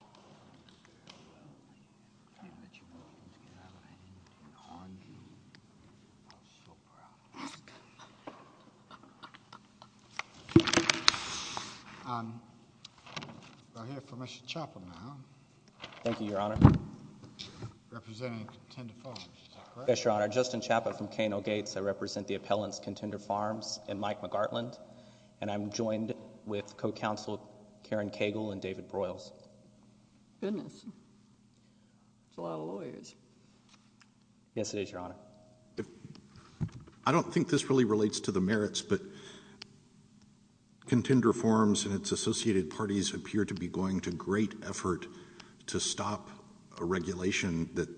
of D.C. I'm here for Mr. Chappell now. Thank you, Your Honor. Representing Contender Farms, is that correct? Yes, Your Honor. Justin Chappell from Kano Gates. I represent the appellants, Contender Farms and Mike McGartland. And I'm joined with co-counsel Karen Cagle and David Broyles. Goodness. That's a lot of lawyers. Yes, it is, Your Honor. I don't think this really relates to the merits, but Contender Farms and its associated parties appear to be going to great effort to stop a regulation that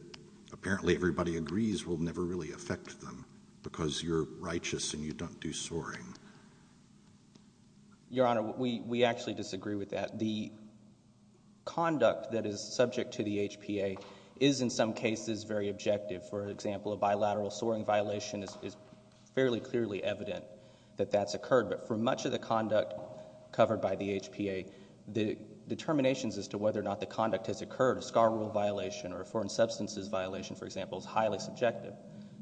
apparently everybody agrees will never really affect them because you're righteous and you don't do soaring. Your Honor, we actually disagree with that. The conduct that is subject to the HPA is, in some cases, very objective. For example, a bilateral soaring violation is fairly clearly evident that that's occurred. But for much of the conduct covered by the HPA, the determinations as to whether or not the conduct has occurred, a scar rule violation or a foreign substances violation, for example, is highly subjective.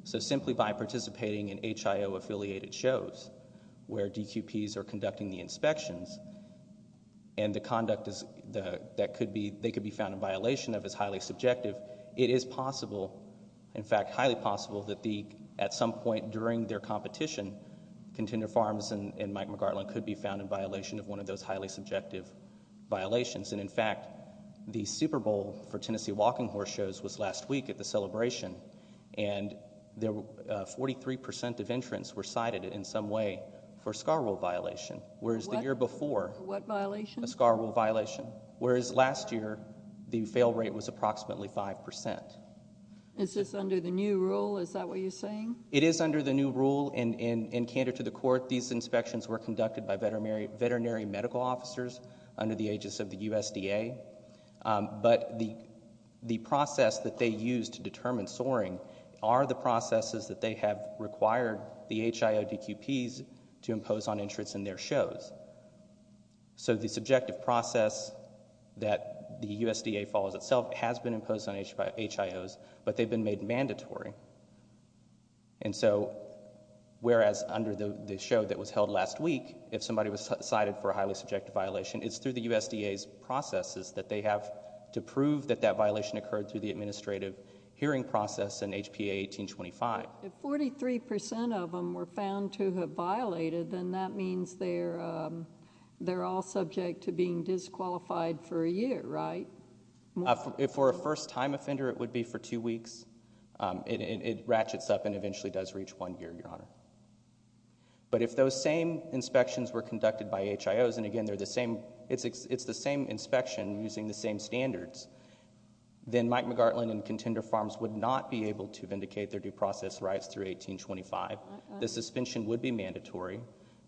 So simply by participating in HIO-affiliated shows where DQPs are conducting the inspections and the conduct that they could be found in violation of is highly subjective, it is possible, in fact highly possible, that at some point during their competition, Contender Farms and Mike McGartland could be found in violation of one of those highly subjective violations. And in fact, the Super Bowl for Tennessee Walking Horse shows was last week at the celebration and 43 percent of entrants were cited in some way for a scar rule violation, whereas the year before, a scar rule violation, whereas last year the fail rate was approximately 5 percent. Is this under the new rule, is that what you're saying? It is under the new rule and candid to the court, these inspections were conducted by USDA, but the process that they used to determine soaring are the processes that they have required the HIO DQPs to impose on entrants in their shows. So the subjective process that the USDA follows itself has been imposed on HIOs, but they've been made mandatory. And so, whereas under the show that was held last week, if somebody was cited for a highly subjective process, it's that they have to prove that that violation occurred through the administrative hearing process in HPA 1825. If 43 percent of them were found to have violated, then that means they're all subject to being disqualified for a year, right? For a first time offender, it would be for two weeks. It ratchets up and eventually does reach one year, Your Honor. But if those same inspections were conducted by HIOs, and again, they're the same, it's the same inspection using the same standards, then Mike McGartland and Contender Farms would not be able to vindicate their due process rights through 1825. The suspension would be mandatory.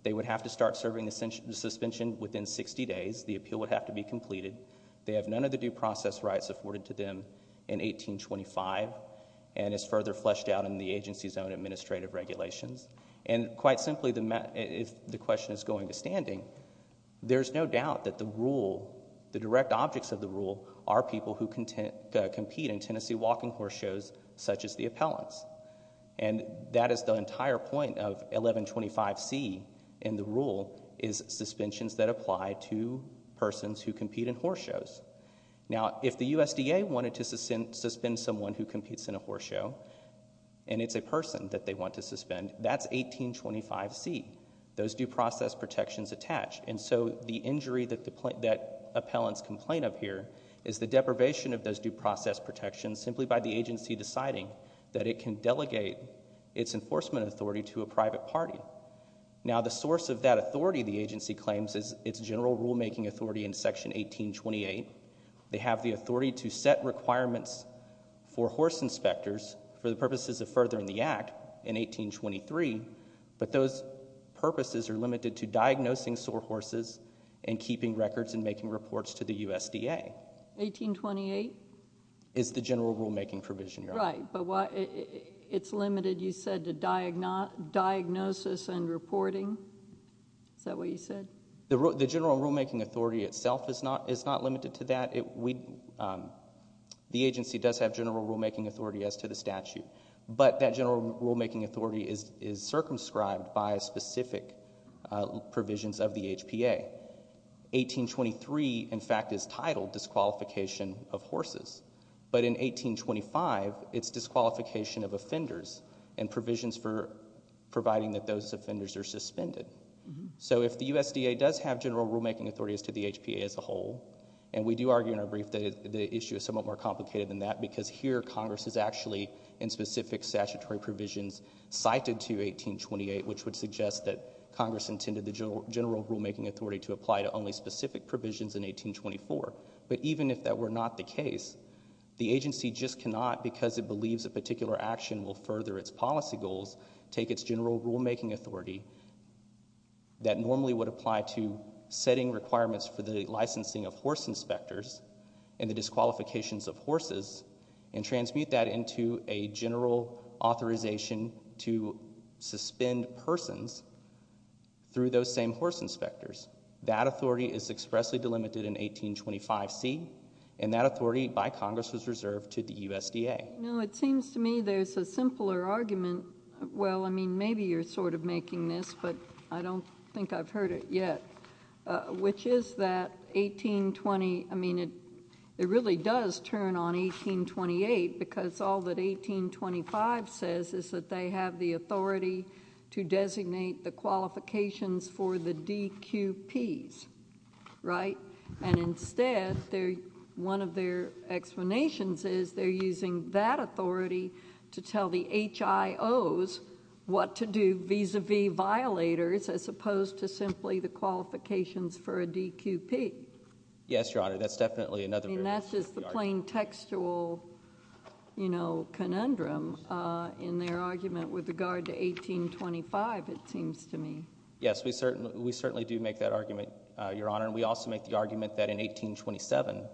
They would have to start serving the suspension within 60 days. The appeal would have to be completed. They have none of the due process rights afforded to them in 1825, and it's further fleshed out in the agency's own administrative regulations. And quite simply, if the question is going to standing, there's no doubt that the rule, the direct objects of the rule, are people who compete in Tennessee walking horse shows such as the appellants. And that is the entire point of 1125C in the rule, is suspensions that apply to persons who compete in horse shows. Now if the USDA wanted to suspend someone who competes in a horse show, and it's a person that they want to suspend, that's 1825C, those due process protections attached. And so the injury that appellants complain of here is the deprivation of those due process protections simply by the agency deciding that it can delegate its enforcement authority to a private party. Now the source of that authority, the agency claims, is its general rulemaking authority in Section 1828. They have the authority to set requirements for horse inspectors for the purposes of furthering the Act in 1823, but those purposes are limited to diagnosing sore horses and keeping records and making reports to the USDA. 1828? Is the general rulemaking provision, Your Honor. Right. But why, it's limited, you said, to diagnosis and reporting, is that what you said? The general rulemaking authority itself is not limited to that. The agency does have general rulemaking authority as to the statute, but that general rulemaking authority is circumscribed by specific provisions of the HPA. 1823, in fact, is titled Disqualification of Horses, but in 1825, it's Disqualification of Offenders and provisions for providing that those offenders are suspended. So if the USDA does have general rulemaking authority as to the HPA as a whole, and we do argue in our brief that the issue is somewhat more complicated than that because here Congress is actually in specific statutory provisions cited to 1828, which would suggest that Congress intended the general rulemaking authority to apply to only specific provisions in 1824. But even if that were not the case, the agency just cannot, because it believes a particular action will further its policy goals, take its general rulemaking authority that normally would apply to setting requirements for the licensing of horse inspectors and the disqualifications of horses, and transmute that into a general authorization to suspend persons through those same horse inspectors. That authority is expressly delimited in 1825C, and that authority by Congress was reserved to the USDA. No, it seems to me there's a simpler argument, well, I mean, maybe you're sort of making this, but I don't think I've heard it yet, which is that 1820, I mean, it really does turn on 1828, because all that 1825 says is that they have the authority to designate the qualifications for the DQPs, right, and instead one of their explanations is they're using that authority to tell the HIOs what to do vis-a-vis violators, as opposed to simply the qualifications for a DQP. Yes, Your Honor, that's definitely another variation of the argument. I mean, that's just the plain textual, you know, conundrum in their argument with regard to 1825, it seems to me. Yes, we certainly do make that argument, Your Honor, and we also make the argument that in 1827,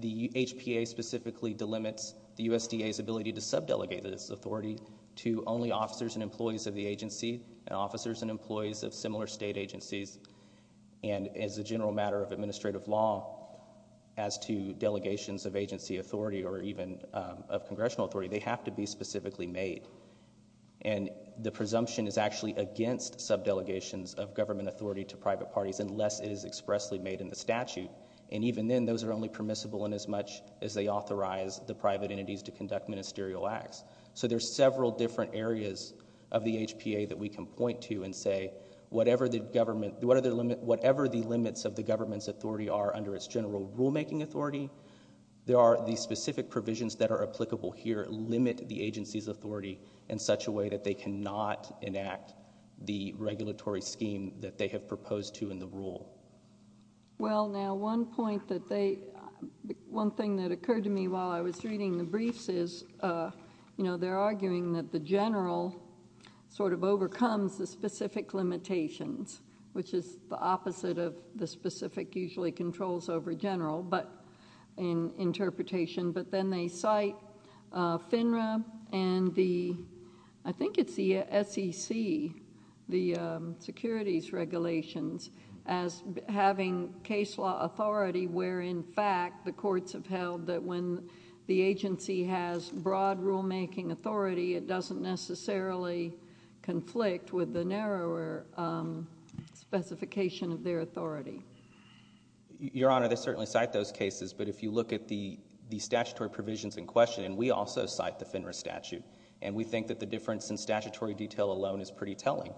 the HPA specifically delimits the USDA's ability to sub-delegate this authority to only officers and employees of the agency, and officers and employees of similar state agencies, and as a general matter of administrative law, as to delegations of agency authority or even of congressional authority, they have to be specifically made, and the presumption is actually against sub-delegations of government authority to private parties, unless it is expressly made in the statute, and even then, those are only permissible inasmuch as they authorize the private entities to conduct ministerial acts. So there's several different areas of the HPA that we can point to and say, whatever the government, whatever the limits of the government's authority are under its general rulemaking authority, there are the specific provisions that are applicable here limit the agency's authority in such a way that they cannot enact the regulatory scheme that they have proposed to in the rule. Well, now, one point that they... one thing that occurred to me while I was reading the briefs is, you know, they're arguing that the general sort of overcomes the specific limitations, which is the opposite of the specific usually controls over general, but... in interpretation, but then they cite FINRA and the... I think it's the SEC, the securities regulations, as having case law authority where, in fact, the courts have held that when the agency has broad rulemaking authority, it doesn't necessarily conflict with the narrower specification of their authority. Your Honor, they certainly cite those cases, but if you look at the statutory provisions in question, we also cite the FINRA statute, and we think that the difference in statutory detail alone is pretty telling.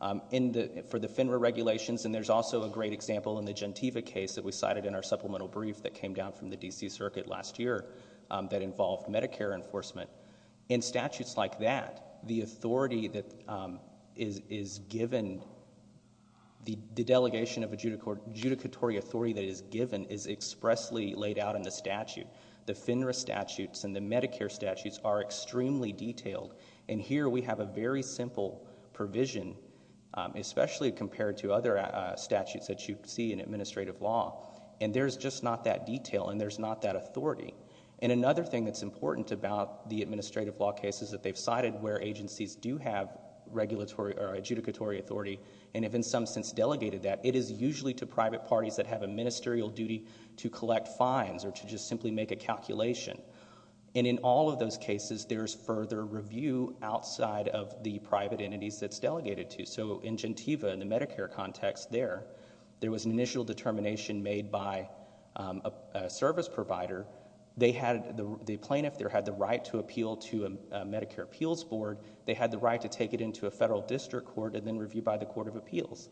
For the FINRA regulations, and there's also a great example in the Gentiva case that we cited in our supplemental brief that came down from the D.C. Circuit last year that involved Medicare enforcement, in statutes like that, the authority that is given, the delegation of adjudicatory authority that is given is expressly laid out in the statute. The FINRA statutes and the Medicare statutes are extremely detailed, and here we have a very simple provision, especially compared to other statutes that you see in administrative law, and there's just not that detail, and there's not that authority. Another thing that's important about the administrative law case is that they've cited where agencies do have regulatory or adjudicatory authority and have, in some sense, delegated that. It is usually to private parties that have a ministerial duty to collect fines or to just simply make a calculation, and in all of those cases, there's further review outside of the private entities that it's delegated to. So in Gentiva, in the Medicare context there, there was an initial determination made by a service provider. They had... the plaintiff there had the right to appeal to a Medicare Appeals Board. They had the right to take it into a federal district court and then review by the Court of Appeals,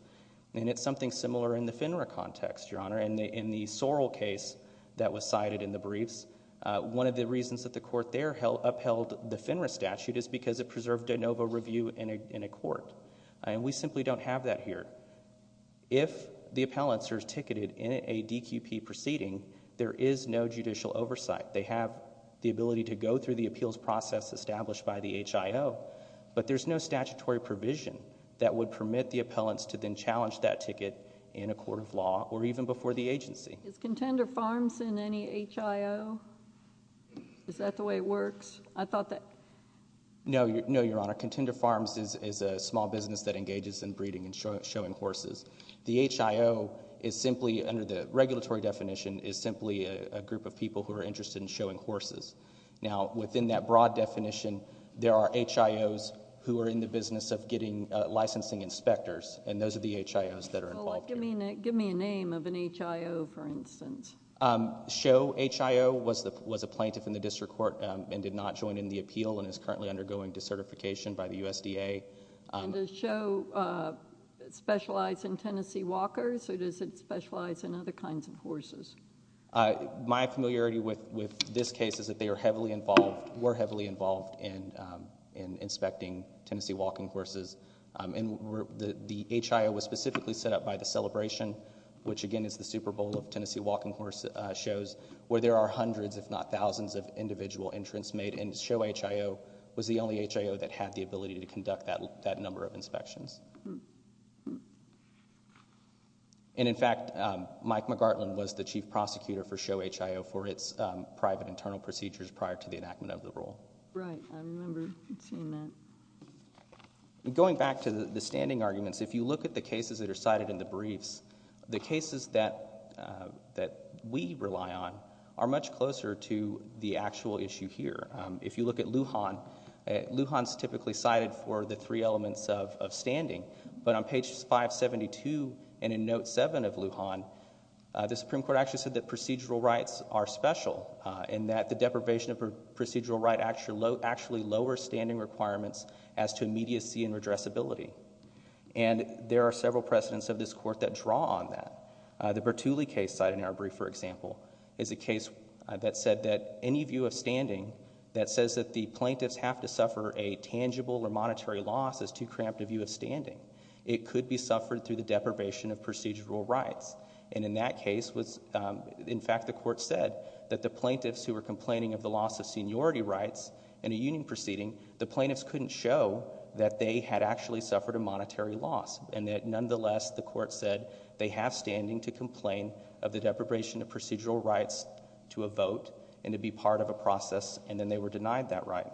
and it's something similar in the FINRA context, Your Honor. In the Sorrell case that was cited in the briefs, one of the reasons that the court there upheld the FINRA statute is because it preserved de novo review in a court, and we simply don't have that here. If the appellants are ticketed in a DQP proceeding, there is no judicial oversight. They have the ability to go through the appeals process established by the HIO, but there's no statutory provision that would permit the appellants to then challenge that ticket in a court of law or even before the agency. Is Contender Farms in any HIO? Is that the way it works? I thought that... No, Your Honor. Contender Farms is a small business that engages in breeding and showing horses. The HIO is simply, under the regulatory definition, is simply a group of people who are interested in showing horses. Now within that broad definition, there are HIOs who are in the business of getting licensing inspectors, and those are the HIOs that are involved here. Give me a name of an HIO, for instance. Show HIO was a plaintiff in the district court and did not join in the appeal and is currently undergoing decertification by the USDA. Does Show specialize in Tennessee walkers, or does it specialize in other kinds of horses? My familiarity with this case is that they were heavily involved in inspecting Tennessee walking horses. The HIO was specifically set up by the Celebration, which again is the Super Bowl of Tennessee walking horse shows, where there are hundreds, if not thousands, of individual entrants made. Show HIO was the only HIO that had the ability to conduct that number of inspections. In fact, Mike McGartland was the chief prosecutor for Show HIO for its private internal procedures prior to the enactment of the rule. Right. I remember seeing that. Going back to the standing arguments, if you look at the cases that are cited in the briefs, the cases that we rely on are much closer to the actual issue here. If you look at Lujan, Lujan is typically cited for the three elements of standing, but on page 572 and in note 7 of Lujan, the Supreme Court actually said that procedural rights are special and that the deprivation of procedural right actually lowers standing requirements as to immediacy and redressability. There are several precedents of this court that draw on that. The Bertulli case cited in our brief, for example, is a case that said that any view of standing that says that the plaintiffs have to suffer a tangible or monetary loss is too cramped a view of standing. It could be suffered through the deprivation of procedural rights. In that case, in fact, the court said that the plaintiffs who were complaining of the loss of seniority rights in a union proceeding, the plaintiffs couldn't show that they had actually suffered a monetary loss and that nonetheless, the court said they have standing to complain of the deprivation of procedural rights to a vote and to be part of a process and then they were denied that right.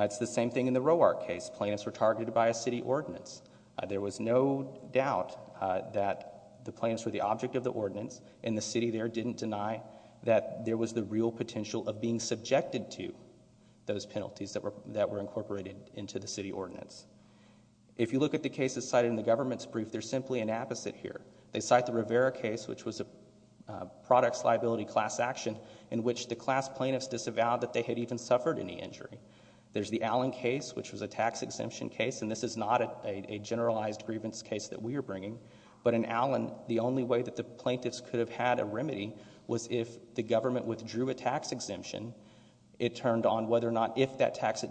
It's the same thing in the Roark case. Plaintiffs were targeted by a city ordinance. There was no doubt that the plaintiffs were the object of the ordinance and the city there didn't deny that there was the real potential of being subjected to those penalties that were incorporated into the city ordinance. If you look at the cases cited in the government's brief, they're simply an opposite here. They cite the Rivera case which was a products liability class action in which the class plaintiffs disavowed that they had even suffered any injury. There's the Allen case which was a tax exemption case and this is not a generalized grievance case that we are bringing but in Allen, the only way that the plaintiffs could have had a remedy was if the government withdrew a tax exemption. It turned on whether or not if that tax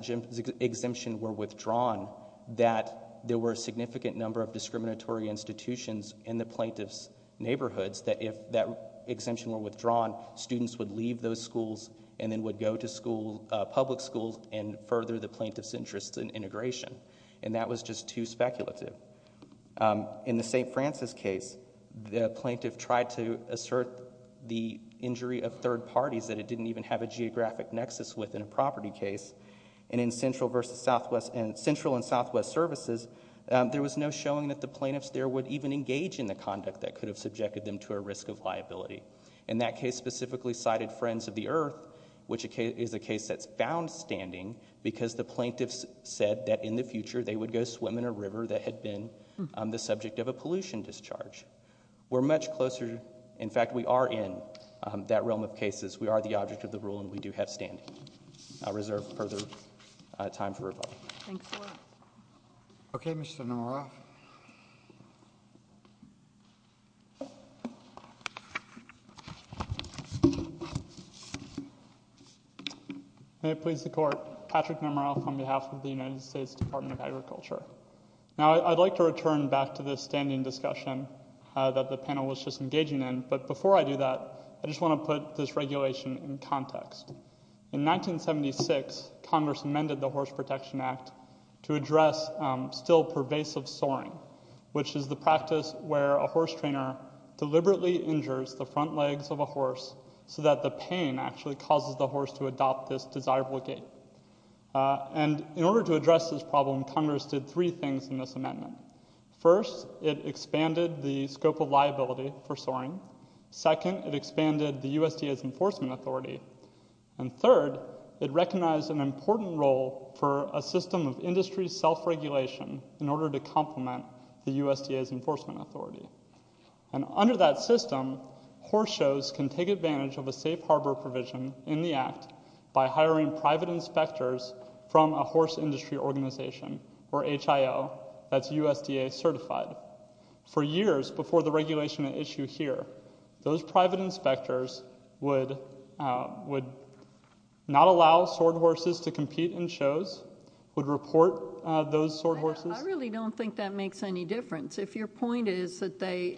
exemption were withdrawn that there were a significant number of discriminatory institutions in the plaintiff's neighborhoods that if that exemption were withdrawn, students would leave those schools and then would go to public schools and further the plaintiff's interest in integration and that was just too speculative. In the St. Francis case, the plaintiff tried to assert the injury of third parties that it didn't even have a geographic nexus with in a property case and in Central and Southwest Services, there was no showing that the plaintiffs there would even engage in the conduct that In that case specifically cited Friends of the Earth which is a case that's found standing because the plaintiffs said that in the future, they would go swim in a river that had been the subject of a pollution discharge. We're much closer, in fact we are in that realm of cases. We are the object of the rule and we do have standing. I reserve further time for rebuttal. Thanks a lot. Okay, Mr. Nemeroff. May it please the Court, Patrick Nemeroff on behalf of the United States Department of Agriculture. Now, I'd like to return back to the standing discussion that the panel was just engaging in but before I do that, I just want to put this regulation in context. In 1976, Congress amended the Horse Protection Act to address still pervasive soaring which is the practice where a horse trainer deliberately injures the front legs of a horse so that the pain actually causes the horse to adopt this desirable gait. And in order to address this problem, Congress did three things in this amendment. First, it expanded the scope of liability for soaring. Second, it expanded the USDA's enforcement authority. And third, it recognized an important role for a system of industry self-regulation in order to complement the USDA's enforcement authority. And under that system, horse shows can take advantage of a safe harbor provision in the act by hiring private inspectors from a horse industry organization or HIO that's USDA certified. For years before the regulation at issue here, those private inspectors would not allow sword horses to compete in shows, would report those sword horses. I really don't think that makes any difference. If your point is that they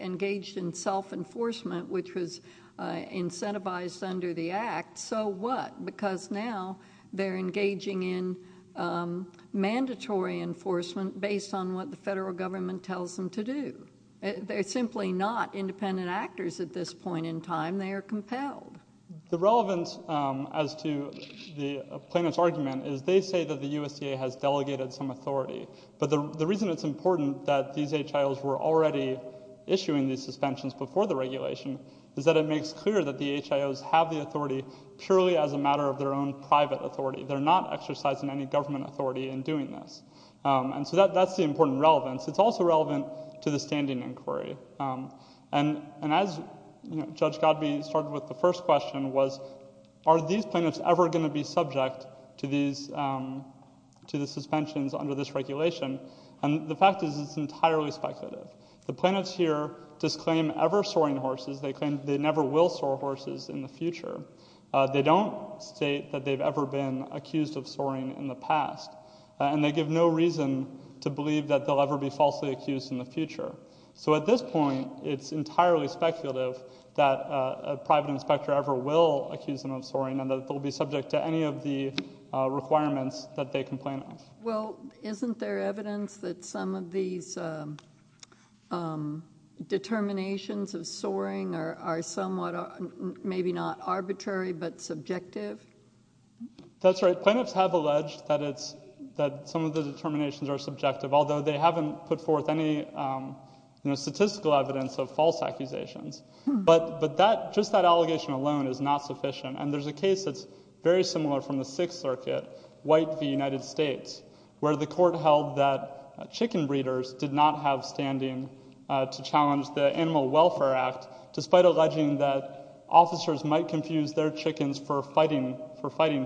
engaged in self-enforcement which was incentivized under the act, so what? Because now they're engaging in mandatory enforcement based on what the federal government tells them to do. They're simply not independent actors at this point in time, they are compelled. The relevance as to the plaintiff's argument is they say that the USDA has delegated some authority. But the reason it's important that these HIOs were already issuing these suspensions before the regulation is that it makes clear that the HIOs have the authority purely as a matter of their own private authority. They're not exercising any government authority in doing this. And so that's the important relevance. It's also relevant to the standing inquiry. And as Judge Godby started with the first question was, are these plaintiffs ever going to be subject to the suspensions under this regulation? And the fact is it's entirely speculative. The plaintiffs here disclaim ever soaring horses, they claim they never will soar horses in the future. They don't state that they've ever been accused of soaring in the past. And they give no reason to believe that they'll ever be falsely accused in the future. So at this point, it's entirely speculative that a private inspector ever will accuse them of soaring and that they'll be subject to any of the requirements that they complain of. Well, isn't there evidence that some of these determinations of soaring are somewhat, maybe not arbitrary, but subjective? That's right. Plaintiffs have alleged that some of the determinations are subjective, although they haven't put forth any statistical evidence of false accusations. But just that allegation alone is not sufficient. And there's a case that's very similar from the Sixth Circuit, White v. United States, where the court held that chicken breeders did not have standing to challenge the Animal Welfare Act, despite alleging that officers might confuse their chickens for fighting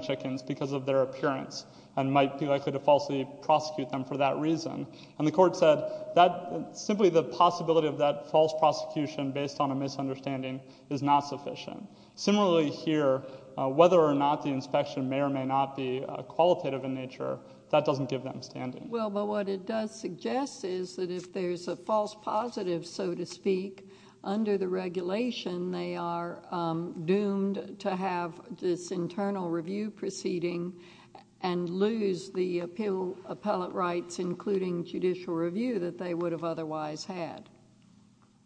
chickens because of their appearance, and might be likely to falsely prosecute them for that reason. And the court said that simply the possibility of that false prosecution based on a misunderstanding is not sufficient. Similarly here, whether or not the inspection may or may not be qualitative in nature, that doesn't give them standing. Well, but what it does suggest is that if there's a false positive, so to speak, under the regulation, they are doomed to have this internal review proceeding and lose the appeal appellate rights, including judicial review, that they would have otherwise had.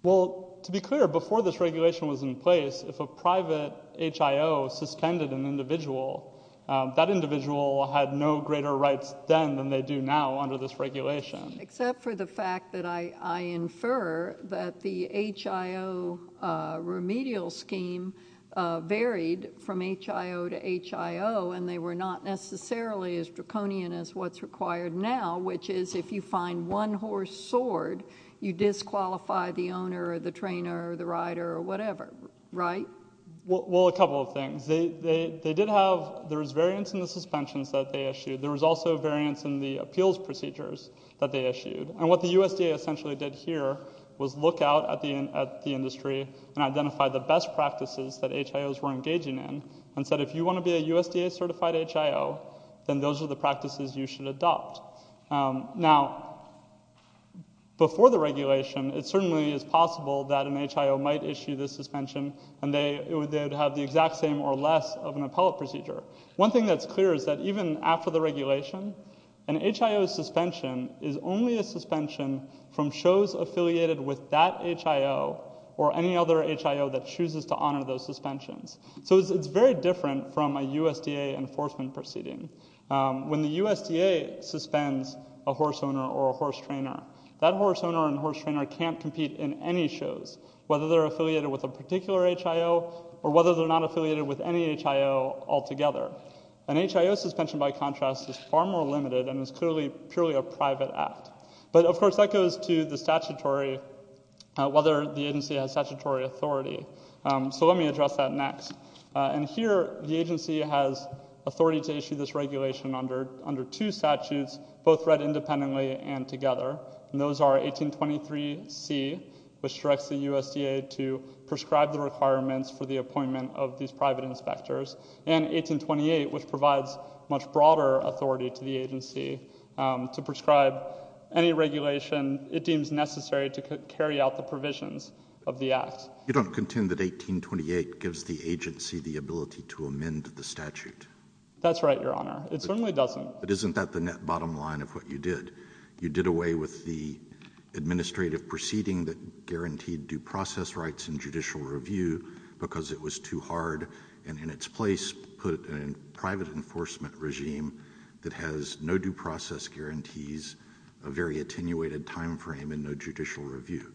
Well, to be clear, before this regulation was in place, if a private HIO suspended an individual, that individual had no greater rights then than they do now under this regulation. Except for the fact that I infer that the HIO remedial scheme varied from HIO to HIO, and they were not necessarily as draconian as what's required now, which is if you find one horse soared, you disqualify the owner or the trainer or the rider or whatever, right? Well, a couple of things. They did have, there was variance in the suspensions that they issued. There was also variance in the appeals procedures that they issued. And what the USDA essentially did here was look out at the industry and identify the best practices that HIOs were engaging in, and said if you want to be a USDA certified HIO, then those are the practices you should adopt. Now, before the regulation, it certainly is possible that an HIO might issue the suspension and they would have the exact same or less of an appellate procedure. One thing that's clear is that even after the regulation, an HIO suspension is only a suspension from shows affiliated with that HIO or any other HIO that chooses to honor those suspensions. So it's very different from a USDA enforcement proceeding. When the USDA suspends a horse owner or a horse trainer, that horse owner and horse trainer can't compete in any shows, whether they're affiliated with a particular HIO or whether they're not affiliated with any HIO altogether. An HIO suspension, by contrast, is far more limited and is clearly, purely a private act. But of course, that goes to the statutory, whether the agency has statutory authority. So let me address that next. And here, the agency has authority to issue this regulation under two statutes, both read independently and together. Those are 1823C, which directs the USDA to prescribe the requirements for the appointment of these private inspectors, and 1828, which provides much broader authority to the agency to prescribe any regulation it deems necessary to carry out the provisions of the act. You don't contend that 1828 gives the agency the ability to amend the statute? That's right, Your Honor. It certainly doesn't. But isn't that the net bottom line of what you did? You did away with the administrative proceeding that guaranteed due process rights and judicial review because it was too hard, and in its place, put a private enforcement regime that has no due process guarantees, a very attenuated time frame, and no judicial review.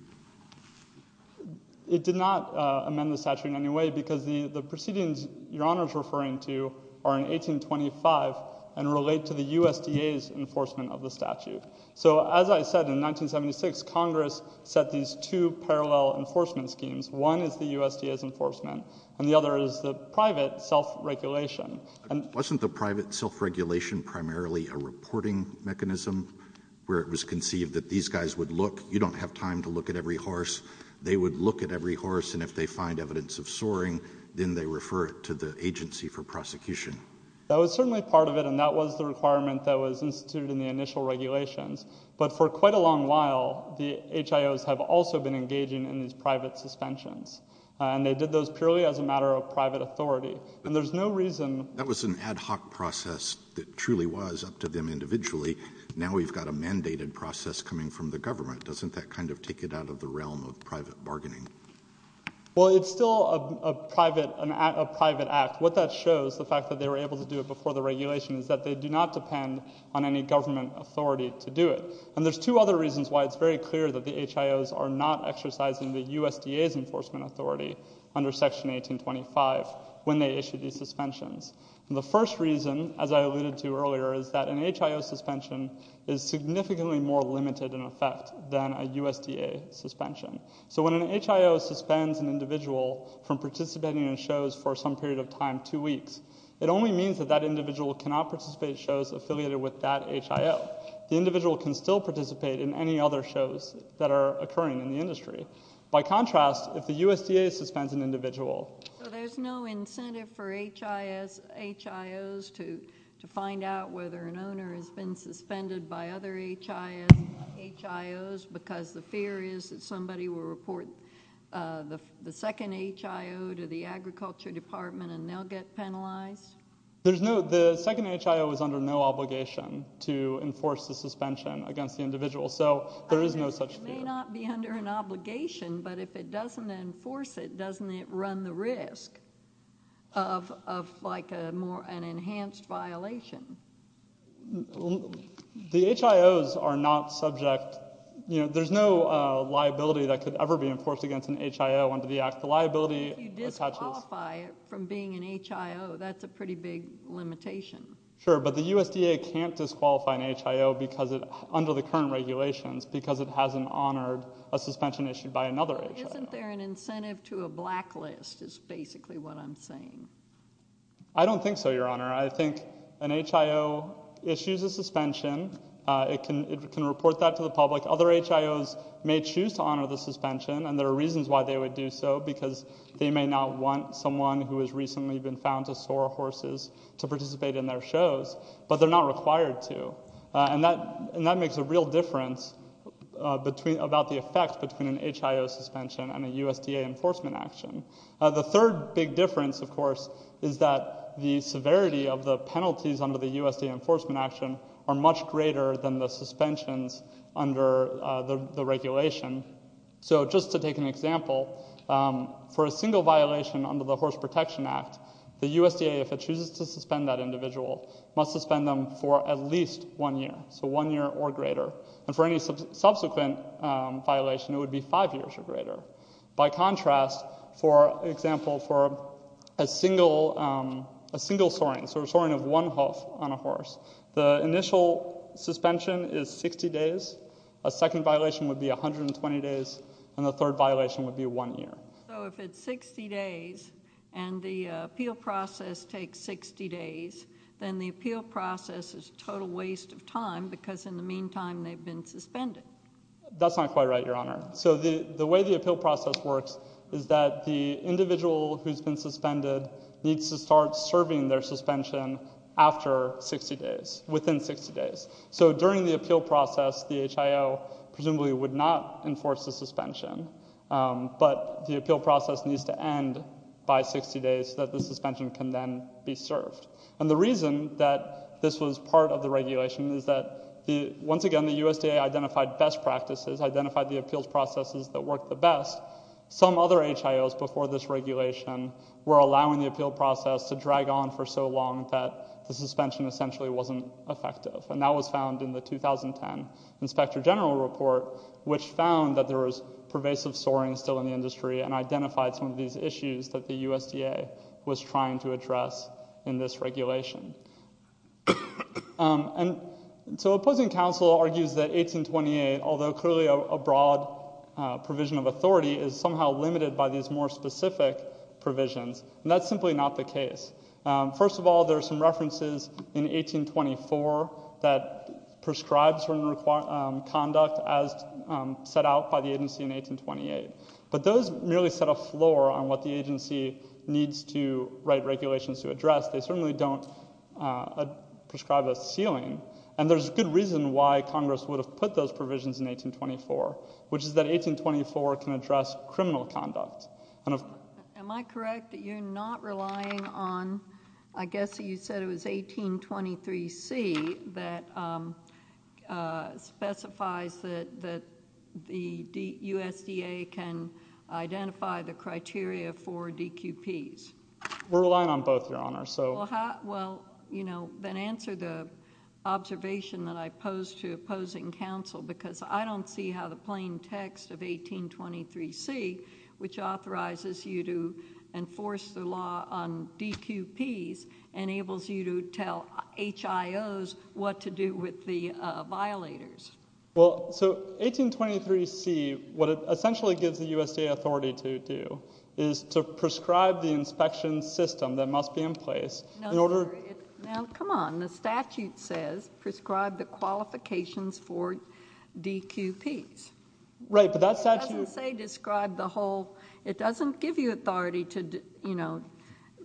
It did not amend the statute in any way because the proceedings Your Honor is referring to are in 1825 and relate to the USDA's enforcement of the statute. So as I said, in 1976, Congress set these two parallel enforcement schemes. One is the USDA's enforcement, and the other is the private self-regulation. Wasn't the private self-regulation primarily a reporting mechanism where it was conceived that these guys would look? at every horse, they would look at every horse, and if they find evidence of soaring, then they refer it to the agency for prosecution? That was certainly part of it, and that was the requirement that was instituted in the initial regulations. But for quite a long while, the HIOs have also been engaging in these private suspensions. And they did those purely as a matter of private authority. And there's no reason? That was an ad hoc process that truly was up to them individually. Now we've got a mandated process coming from the government. Doesn't that kind of take it out of the realm of private bargaining? Well, it's still a private act. What that shows, the fact that they were able to do it before the regulation, is that they do not depend on any government authority to do it. And there's two other reasons why it's very clear that the HIOs are not exercising the USDA's enforcement authority under Section 1825 when they issue these suspensions. The first reason, as I alluded to earlier, is that an HIO suspension is significantly more limited in effect than a USDA suspension. So when an HIO suspends an individual from participating in shows for some period of time, two weeks, it only means that that individual cannot participate in shows affiliated with that HIO. The individual can still participate in any other shows that are occurring in the industry. By contrast, if the USDA suspends an individual... So there's no incentive for HIOs to find out whether an owner has been suspended by other HIOs because the fear is that somebody will report the second HIO to the Agriculture Department and they'll get penalized? There's no... The second HIO is under no obligation to enforce the suspension against the individual, so there is no such fear. It may not be under an obligation, but if it doesn't enforce it, doesn't it run the risk of, like, an enhanced violation? The HIOs are not subject... There's no liability that could ever be enforced against an HIO under the Act. The liability attaches... If you disqualify it from being an HIO, that's a pretty big limitation. Sure, but the USDA can't disqualify an HIO under the current regulations because it hasn't honored a suspension issued by another HIO. Well, isn't there an incentive to a blacklist, is basically what I'm saying. I don't think so, Your Honor. I think an HIO issues a suspension, it can report that to the public. Other HIOs may choose to honor the suspension, and there are reasons why they would do so, because they may not want someone who has recently been found to soar horses to participate in their shows, but they're not required to, and that makes a real difference about the effect between an HIO suspension and a USDA enforcement action. The third big difference, of course, is that the severity of the penalties under the USDA enforcement action are much greater than the suspensions under the regulation. So just to take an example, for a single violation under the Horse Protection Act, the USDA, if it chooses to suspend that individual, must suspend them for at least one year, so one year or greater. And for any subsequent violation, it would be five years or greater. By contrast, for example, for a single soaring, so a soaring of one hoof on a horse, the initial suspension is 60 days, a second violation would be 120 days, and the third violation would be one year. So if it's 60 days, and the appeal process takes 60 days, then the appeal process is a total waste of time, because in the meantime, they've been suspended. That's not quite right, Your Honor. So the way the appeal process works is that the individual who's been suspended needs to start serving their suspension after 60 days, within 60 days. So during the appeal process, the HIO presumably would not enforce the suspension, but the appeal process needs to end by 60 days so that the suspension can then be served. And the reason that this was part of the regulation is that, once again, the USDA identified best appeal processes that worked the best. Some other HIOs before this regulation were allowing the appeal process to drag on for so long that the suspension essentially wasn't effective. And that was found in the 2010 Inspector General Report, which found that there was pervasive soaring still in the industry and identified some of these issues that the USDA was trying to address in this regulation. And so opposing counsel argues that 1828, although clearly a broad provision of authority, is somehow limited by these more specific provisions, and that's simply not the case. First of all, there are some references in 1824 that prescribe certain conduct as set out by the agency in 1828. But those merely set a floor on what the agency needs to write regulations to address. They certainly don't prescribe a ceiling. And there's a good reason why Congress would have put those provisions in 1824, which is that 1824 can address criminal conduct. Am I correct that you're not relying on, I guess you said it was 1823C that specifies that the USDA can identify the criteria for DQPs? We're relying on both, Your Honor. Well, then answer the observation that I posed to opposing counsel, because I don't see how the plain text of 1823C, which authorizes you to enforce the law on DQPs, enables you to tell HIOs what to do with the violators. Well, so 1823C, what it essentially gives the USDA authority to do is to prescribe the inspection system that must be in place in order... Now, come on. The statute says prescribe the qualifications for DQPs. Right, but that statute... It doesn't say describe the whole... It doesn't give you authority to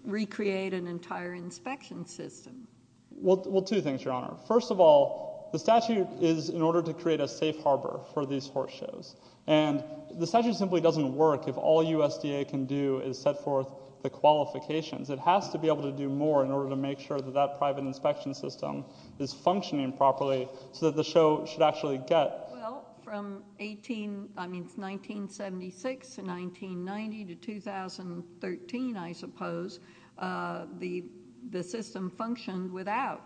recreate an entire inspection system. Well, two things, Your Honor. First of all, the statute is in order to create a safe harbor for these horse shows, and the statute simply doesn't work if all USDA can do is set forth the qualifications. It has to be able to do more in order to make sure that that private inspection system is functioning properly so that the show should actually get... Well, from 1976 to 1990 to 2013, I suppose, the system functioned without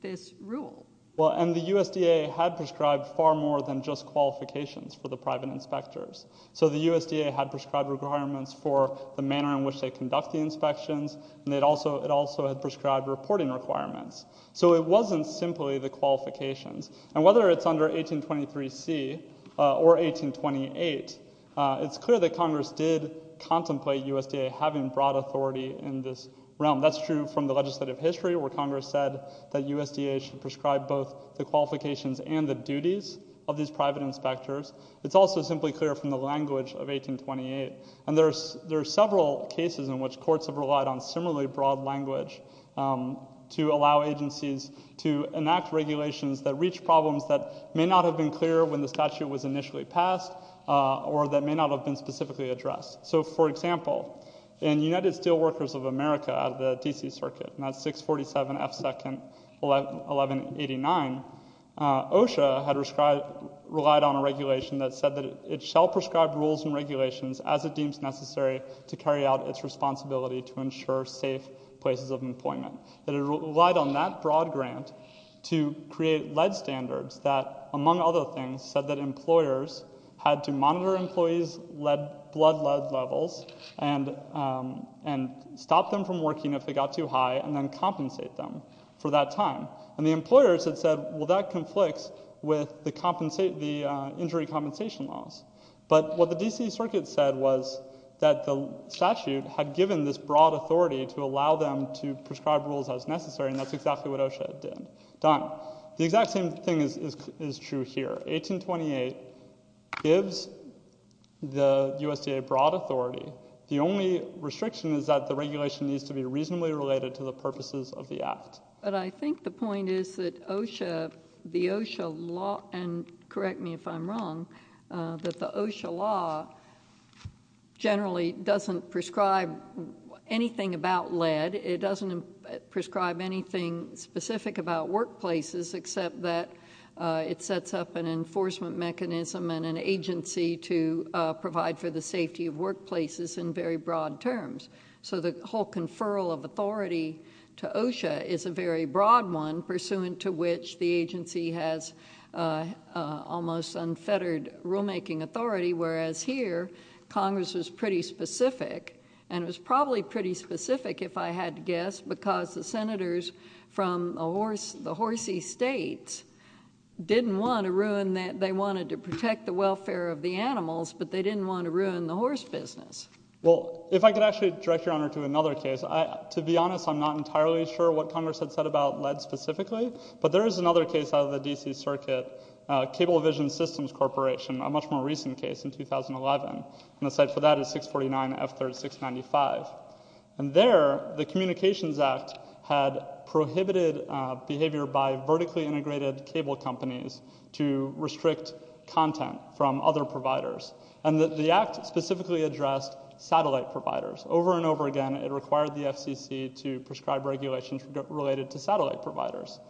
this rule. Well, and the USDA had prescribed far more than just qualifications for the private inspectors. So the USDA had prescribed requirements for the manner in which they conduct the inspections, and it also had prescribed reporting requirements. So it wasn't simply the qualifications. And whether it's under 1823C or 1828, it's clear that Congress did contemplate USDA having broad authority in this realm. That's true from the legislative history where Congress said that USDA should prescribe both the qualifications and the duties of these private inspectors. It's also simply clear from the language of 1828. And there are several cases in which courts have relied on similarly broad language to allow agencies to enact regulations that reach problems that may not have been clear when the statute was initially passed or that may not have been specifically addressed. So for example, in United Steelworkers of America out of the D.C. Circuit, and that's 647 F. 2nd 1189, OSHA had relied on a regulation that said that it shall prescribe rules and regulations as it deems necessary to carry out its responsibility to ensure safe places of employment. And it relied on that broad grant to create lead standards that, among other things, said that employers had to monitor employees' blood lead levels and stop them from working if they got too high and then compensate them for that time. And the employers had said, well, that conflicts with the injury compensation laws. But what the D.C. Circuit said was that the statute had given this broad authority to allow them to prescribe rules as necessary, and that's exactly what OSHA did. Donna, the exact same thing is true here. 1828 gives the USDA broad authority. The only restriction is that the regulation needs to be reasonably related to the purposes of the Act. But I think the point is that OSHA, the OSHA law, and correct me if I'm wrong, that the OSHA law is broad-led. It doesn't prescribe anything specific about workplaces except that it sets up an enforcement mechanism and an agency to provide for the safety of workplaces in very broad terms. So the whole conferral of authority to OSHA is a very broad one, pursuant to which the agency has almost unfettered rulemaking authority, whereas here Congress was pretty specific, and it was probably pretty specific, if I had to guess, because the Senators from the horsey states didn't want to ruin that. They wanted to protect the welfare of the animals, but they didn't want to ruin the horse business. Well, if I could actually direct Your Honor to another case. To be honest, I'm not entirely sure what Congress had said about lead specifically, but there is another case out of the D.C. Circuit, Cable Vision Systems Corporation, a much more recent case in 2011. And the site for that is 649F3695. And there, the Communications Act had prohibited behavior by vertically integrated cable companies to restrict content from other providers, and the Act specifically addressed satellite providers. Over and over again, it required the FCC to prescribe regulations related to satellite providers.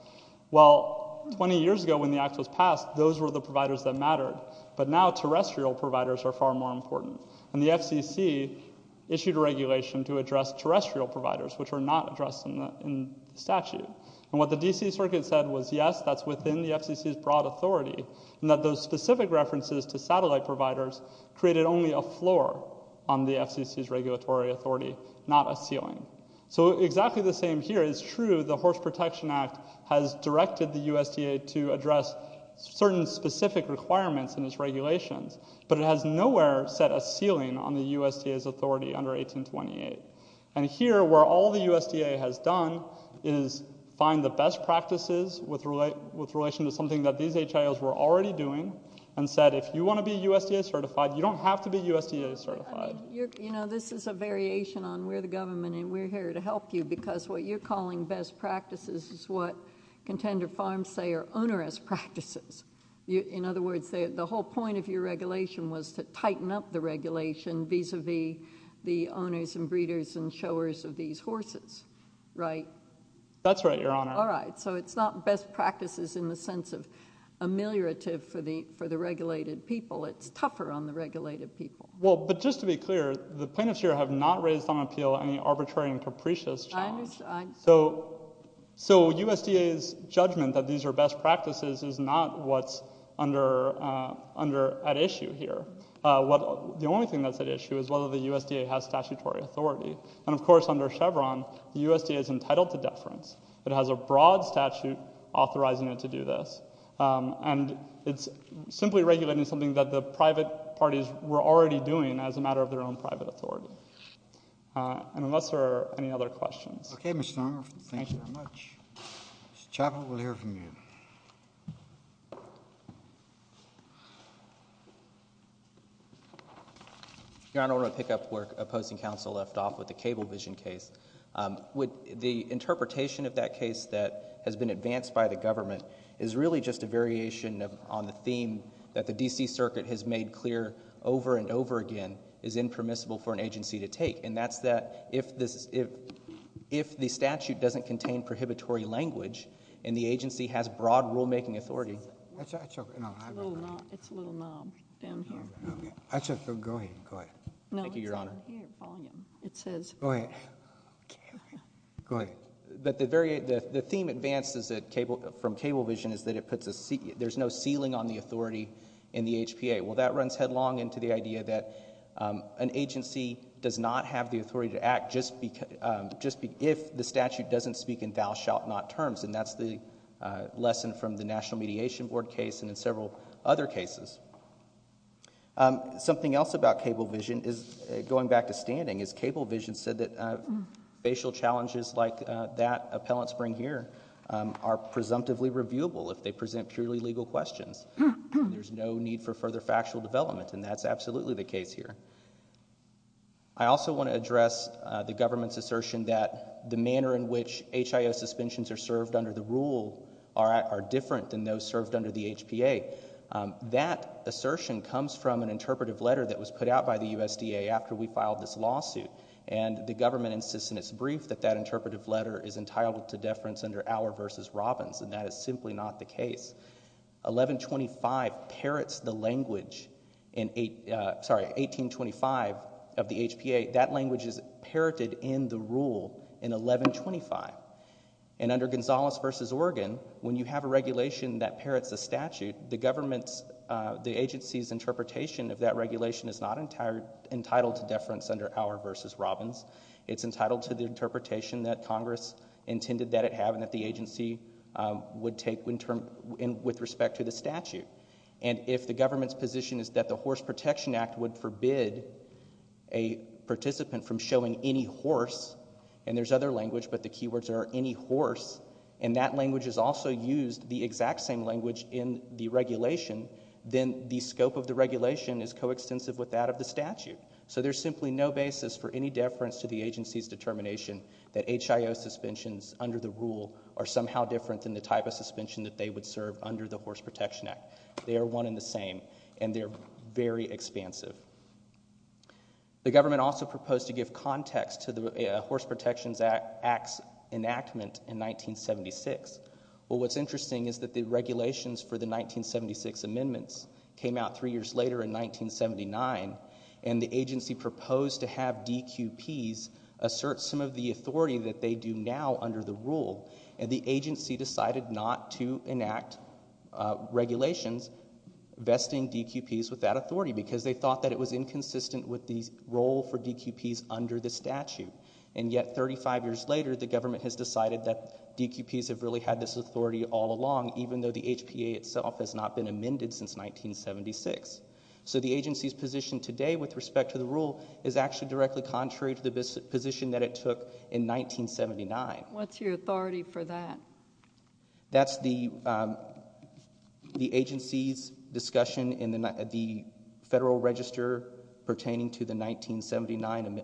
Well, 20 years ago when the Act was passed, those were the providers that mattered, but now terrestrial providers are far more important. And the FCC issued a regulation to address terrestrial providers, which were not addressed in the statute. And what the D.C. Circuit said was, yes, that's within the FCC's broad authority, and that those specific references to satellite providers created only a floor on the FCC's regulatory authority, not a ceiling. So exactly the same here is true. The Horse Protection Act has directed the USDA to address certain specific requirements in its regulations, but it has nowhere set a ceiling on the USDA's authority under 1828. And here, where all the USDA has done is find the best practices with relation to something that these HIOs were already doing, and said, if you want to be USDA certified, you don't have to be USDA certified. You know, this is a variation on we're the government, and we're here to help you, because what you're calling best practices is what contender farms say are onerous practices. In other words, the whole point of your regulation was to tighten up the regulation vis-a-vis the owners and breeders and showers of these horses, right? That's right, Your Honor. All right. So it's not best practices in the sense of ameliorative for the regulated people. It's tougher on the regulated people. Well, but just to be clear, the plaintiffs here have not raised on appeal any arbitrary and capricious challenge. So USDA's judgment that these are best practices is not what's at issue here. The only thing that's at issue is whether the USDA has statutory authority. And of course, under Chevron, the USDA is entitled to deference. It has a broad statute authorizing it to do this. And it's simply regulating something that the private parties were already doing as a matter of their own private authority. Thank you. And unless there are any other questions... Okay, Mr. Nauert. Thank you very much. Mr. Chappell, we'll hear from you. Your Honor, I want to pick up where opposing counsel left off with the cable vision case. The interpretation of that case that has been advanced by the government is really just a variation on the theme that the D.C. Circuit has made clear over and over again is impermissible for an agency to take. And that's that if the statute doesn't contain prohibitory language and the agency has broad rulemaking authority... It's a little knob down here. Go ahead. Go ahead. Thank you, Your Honor. It says... Go ahead. Go ahead. But the theme advanced from cable vision is that there's no ceiling on the authority in the HPA. Well, that runs headlong into the idea that an agency does not have the authority to act just if the statute doesn't speak in thou shalt not terms. And that's the lesson from the National Mediation Board case and in several other cases. Something else about cable vision is, going back to standing, is cable vision said that facial challenges like that appellants bring here are presumptively reviewable if they present purely legal questions. And there's no need for further factual development. And that's absolutely the case here. I also want to address the government's assertion that the manner in which HIO suspensions are served under the rule are different than those served under the HPA. That assertion comes from an interpretive letter that was put out by the USDA after we filed this lawsuit. And the government insists in its brief that that interpretive letter is entitled to deference under Auer v. Robbins. And that is simply not the case. 1125 parrots the language in 1825 of the HPA. That language is parroted in the rule in 1125. And under Gonzales v. Oregon, when you have a regulation that parrots the statute, the government's, the agency's interpretation of that regulation is not entitled to deference under Auer v. Robbins. It's entitled to the interpretation that Congress intended that it have and that the agency would take with respect to the statute. And if the government's position is that the Horse Protection Act would forbid a participant from showing any horse, and there's other language, but the keywords are any horse, and that language is also used, the exact same language in the regulation, then the scope of the regulation is coextensive with that of the statute. So there's simply no basis for any deference to the agency's determination that HIO suspensions under the rule are somehow different than the type of suspension that they would serve under the Horse Protection Act. They are one and the same. And they're very expansive. The government also proposed to give context to the Horse Protection Act's enactment in 1976. Well, what's interesting is that the regulations for the 1976 amendments came out three years later in 1979, and the agency proposed to have DQPs assert some of the authority that they do now under the rule, and the agency decided not to enact regulations vesting DQPs with that authority because they thought that it was inconsistent with the role for DQPs under the statute. And yet, 35 years later, the government has decided that DQPs have really had this authority all along, even though the HPA itself has not been amended since 1976. So the agency's position today with respect to the rule is actually directly contrary to the position that it took in 1979. What's your authority for that? That's the agency's discussion in the Federal Register pertaining to the 1979, the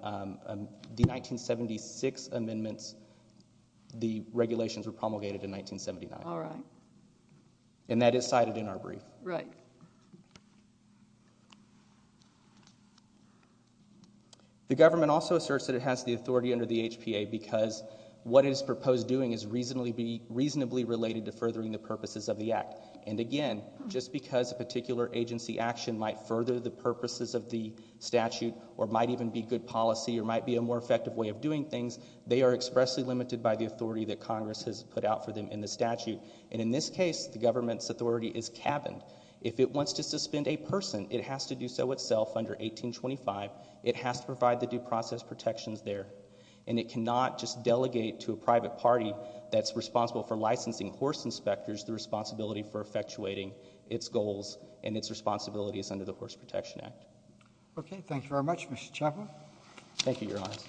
1976 amendments. The regulations were promulgated in 1979. And that is cited in our brief. Right. The government also asserts that it has the authority under the HPA because what it is proposed doing is reasonably related to furthering the purposes of the Act. And again, just because a particular agency action might further the purposes of the statute or might even be good policy or might be a more effective way of doing things, they are expressly limited by the authority that Congress has put out for them in the statute. And in this case, the government's authority is cabined. If it wants to suspend a person, it has to do so itself under 1825. It has to provide the due process protections there. And it cannot just delegate to a private party that's responsible for licensing horse inspectors the responsibility for effectuating its goals and its responsibilities under the Horse Protection Act. Okay. Thank you very much, Mr. Chapman. Thank you, Your Honors.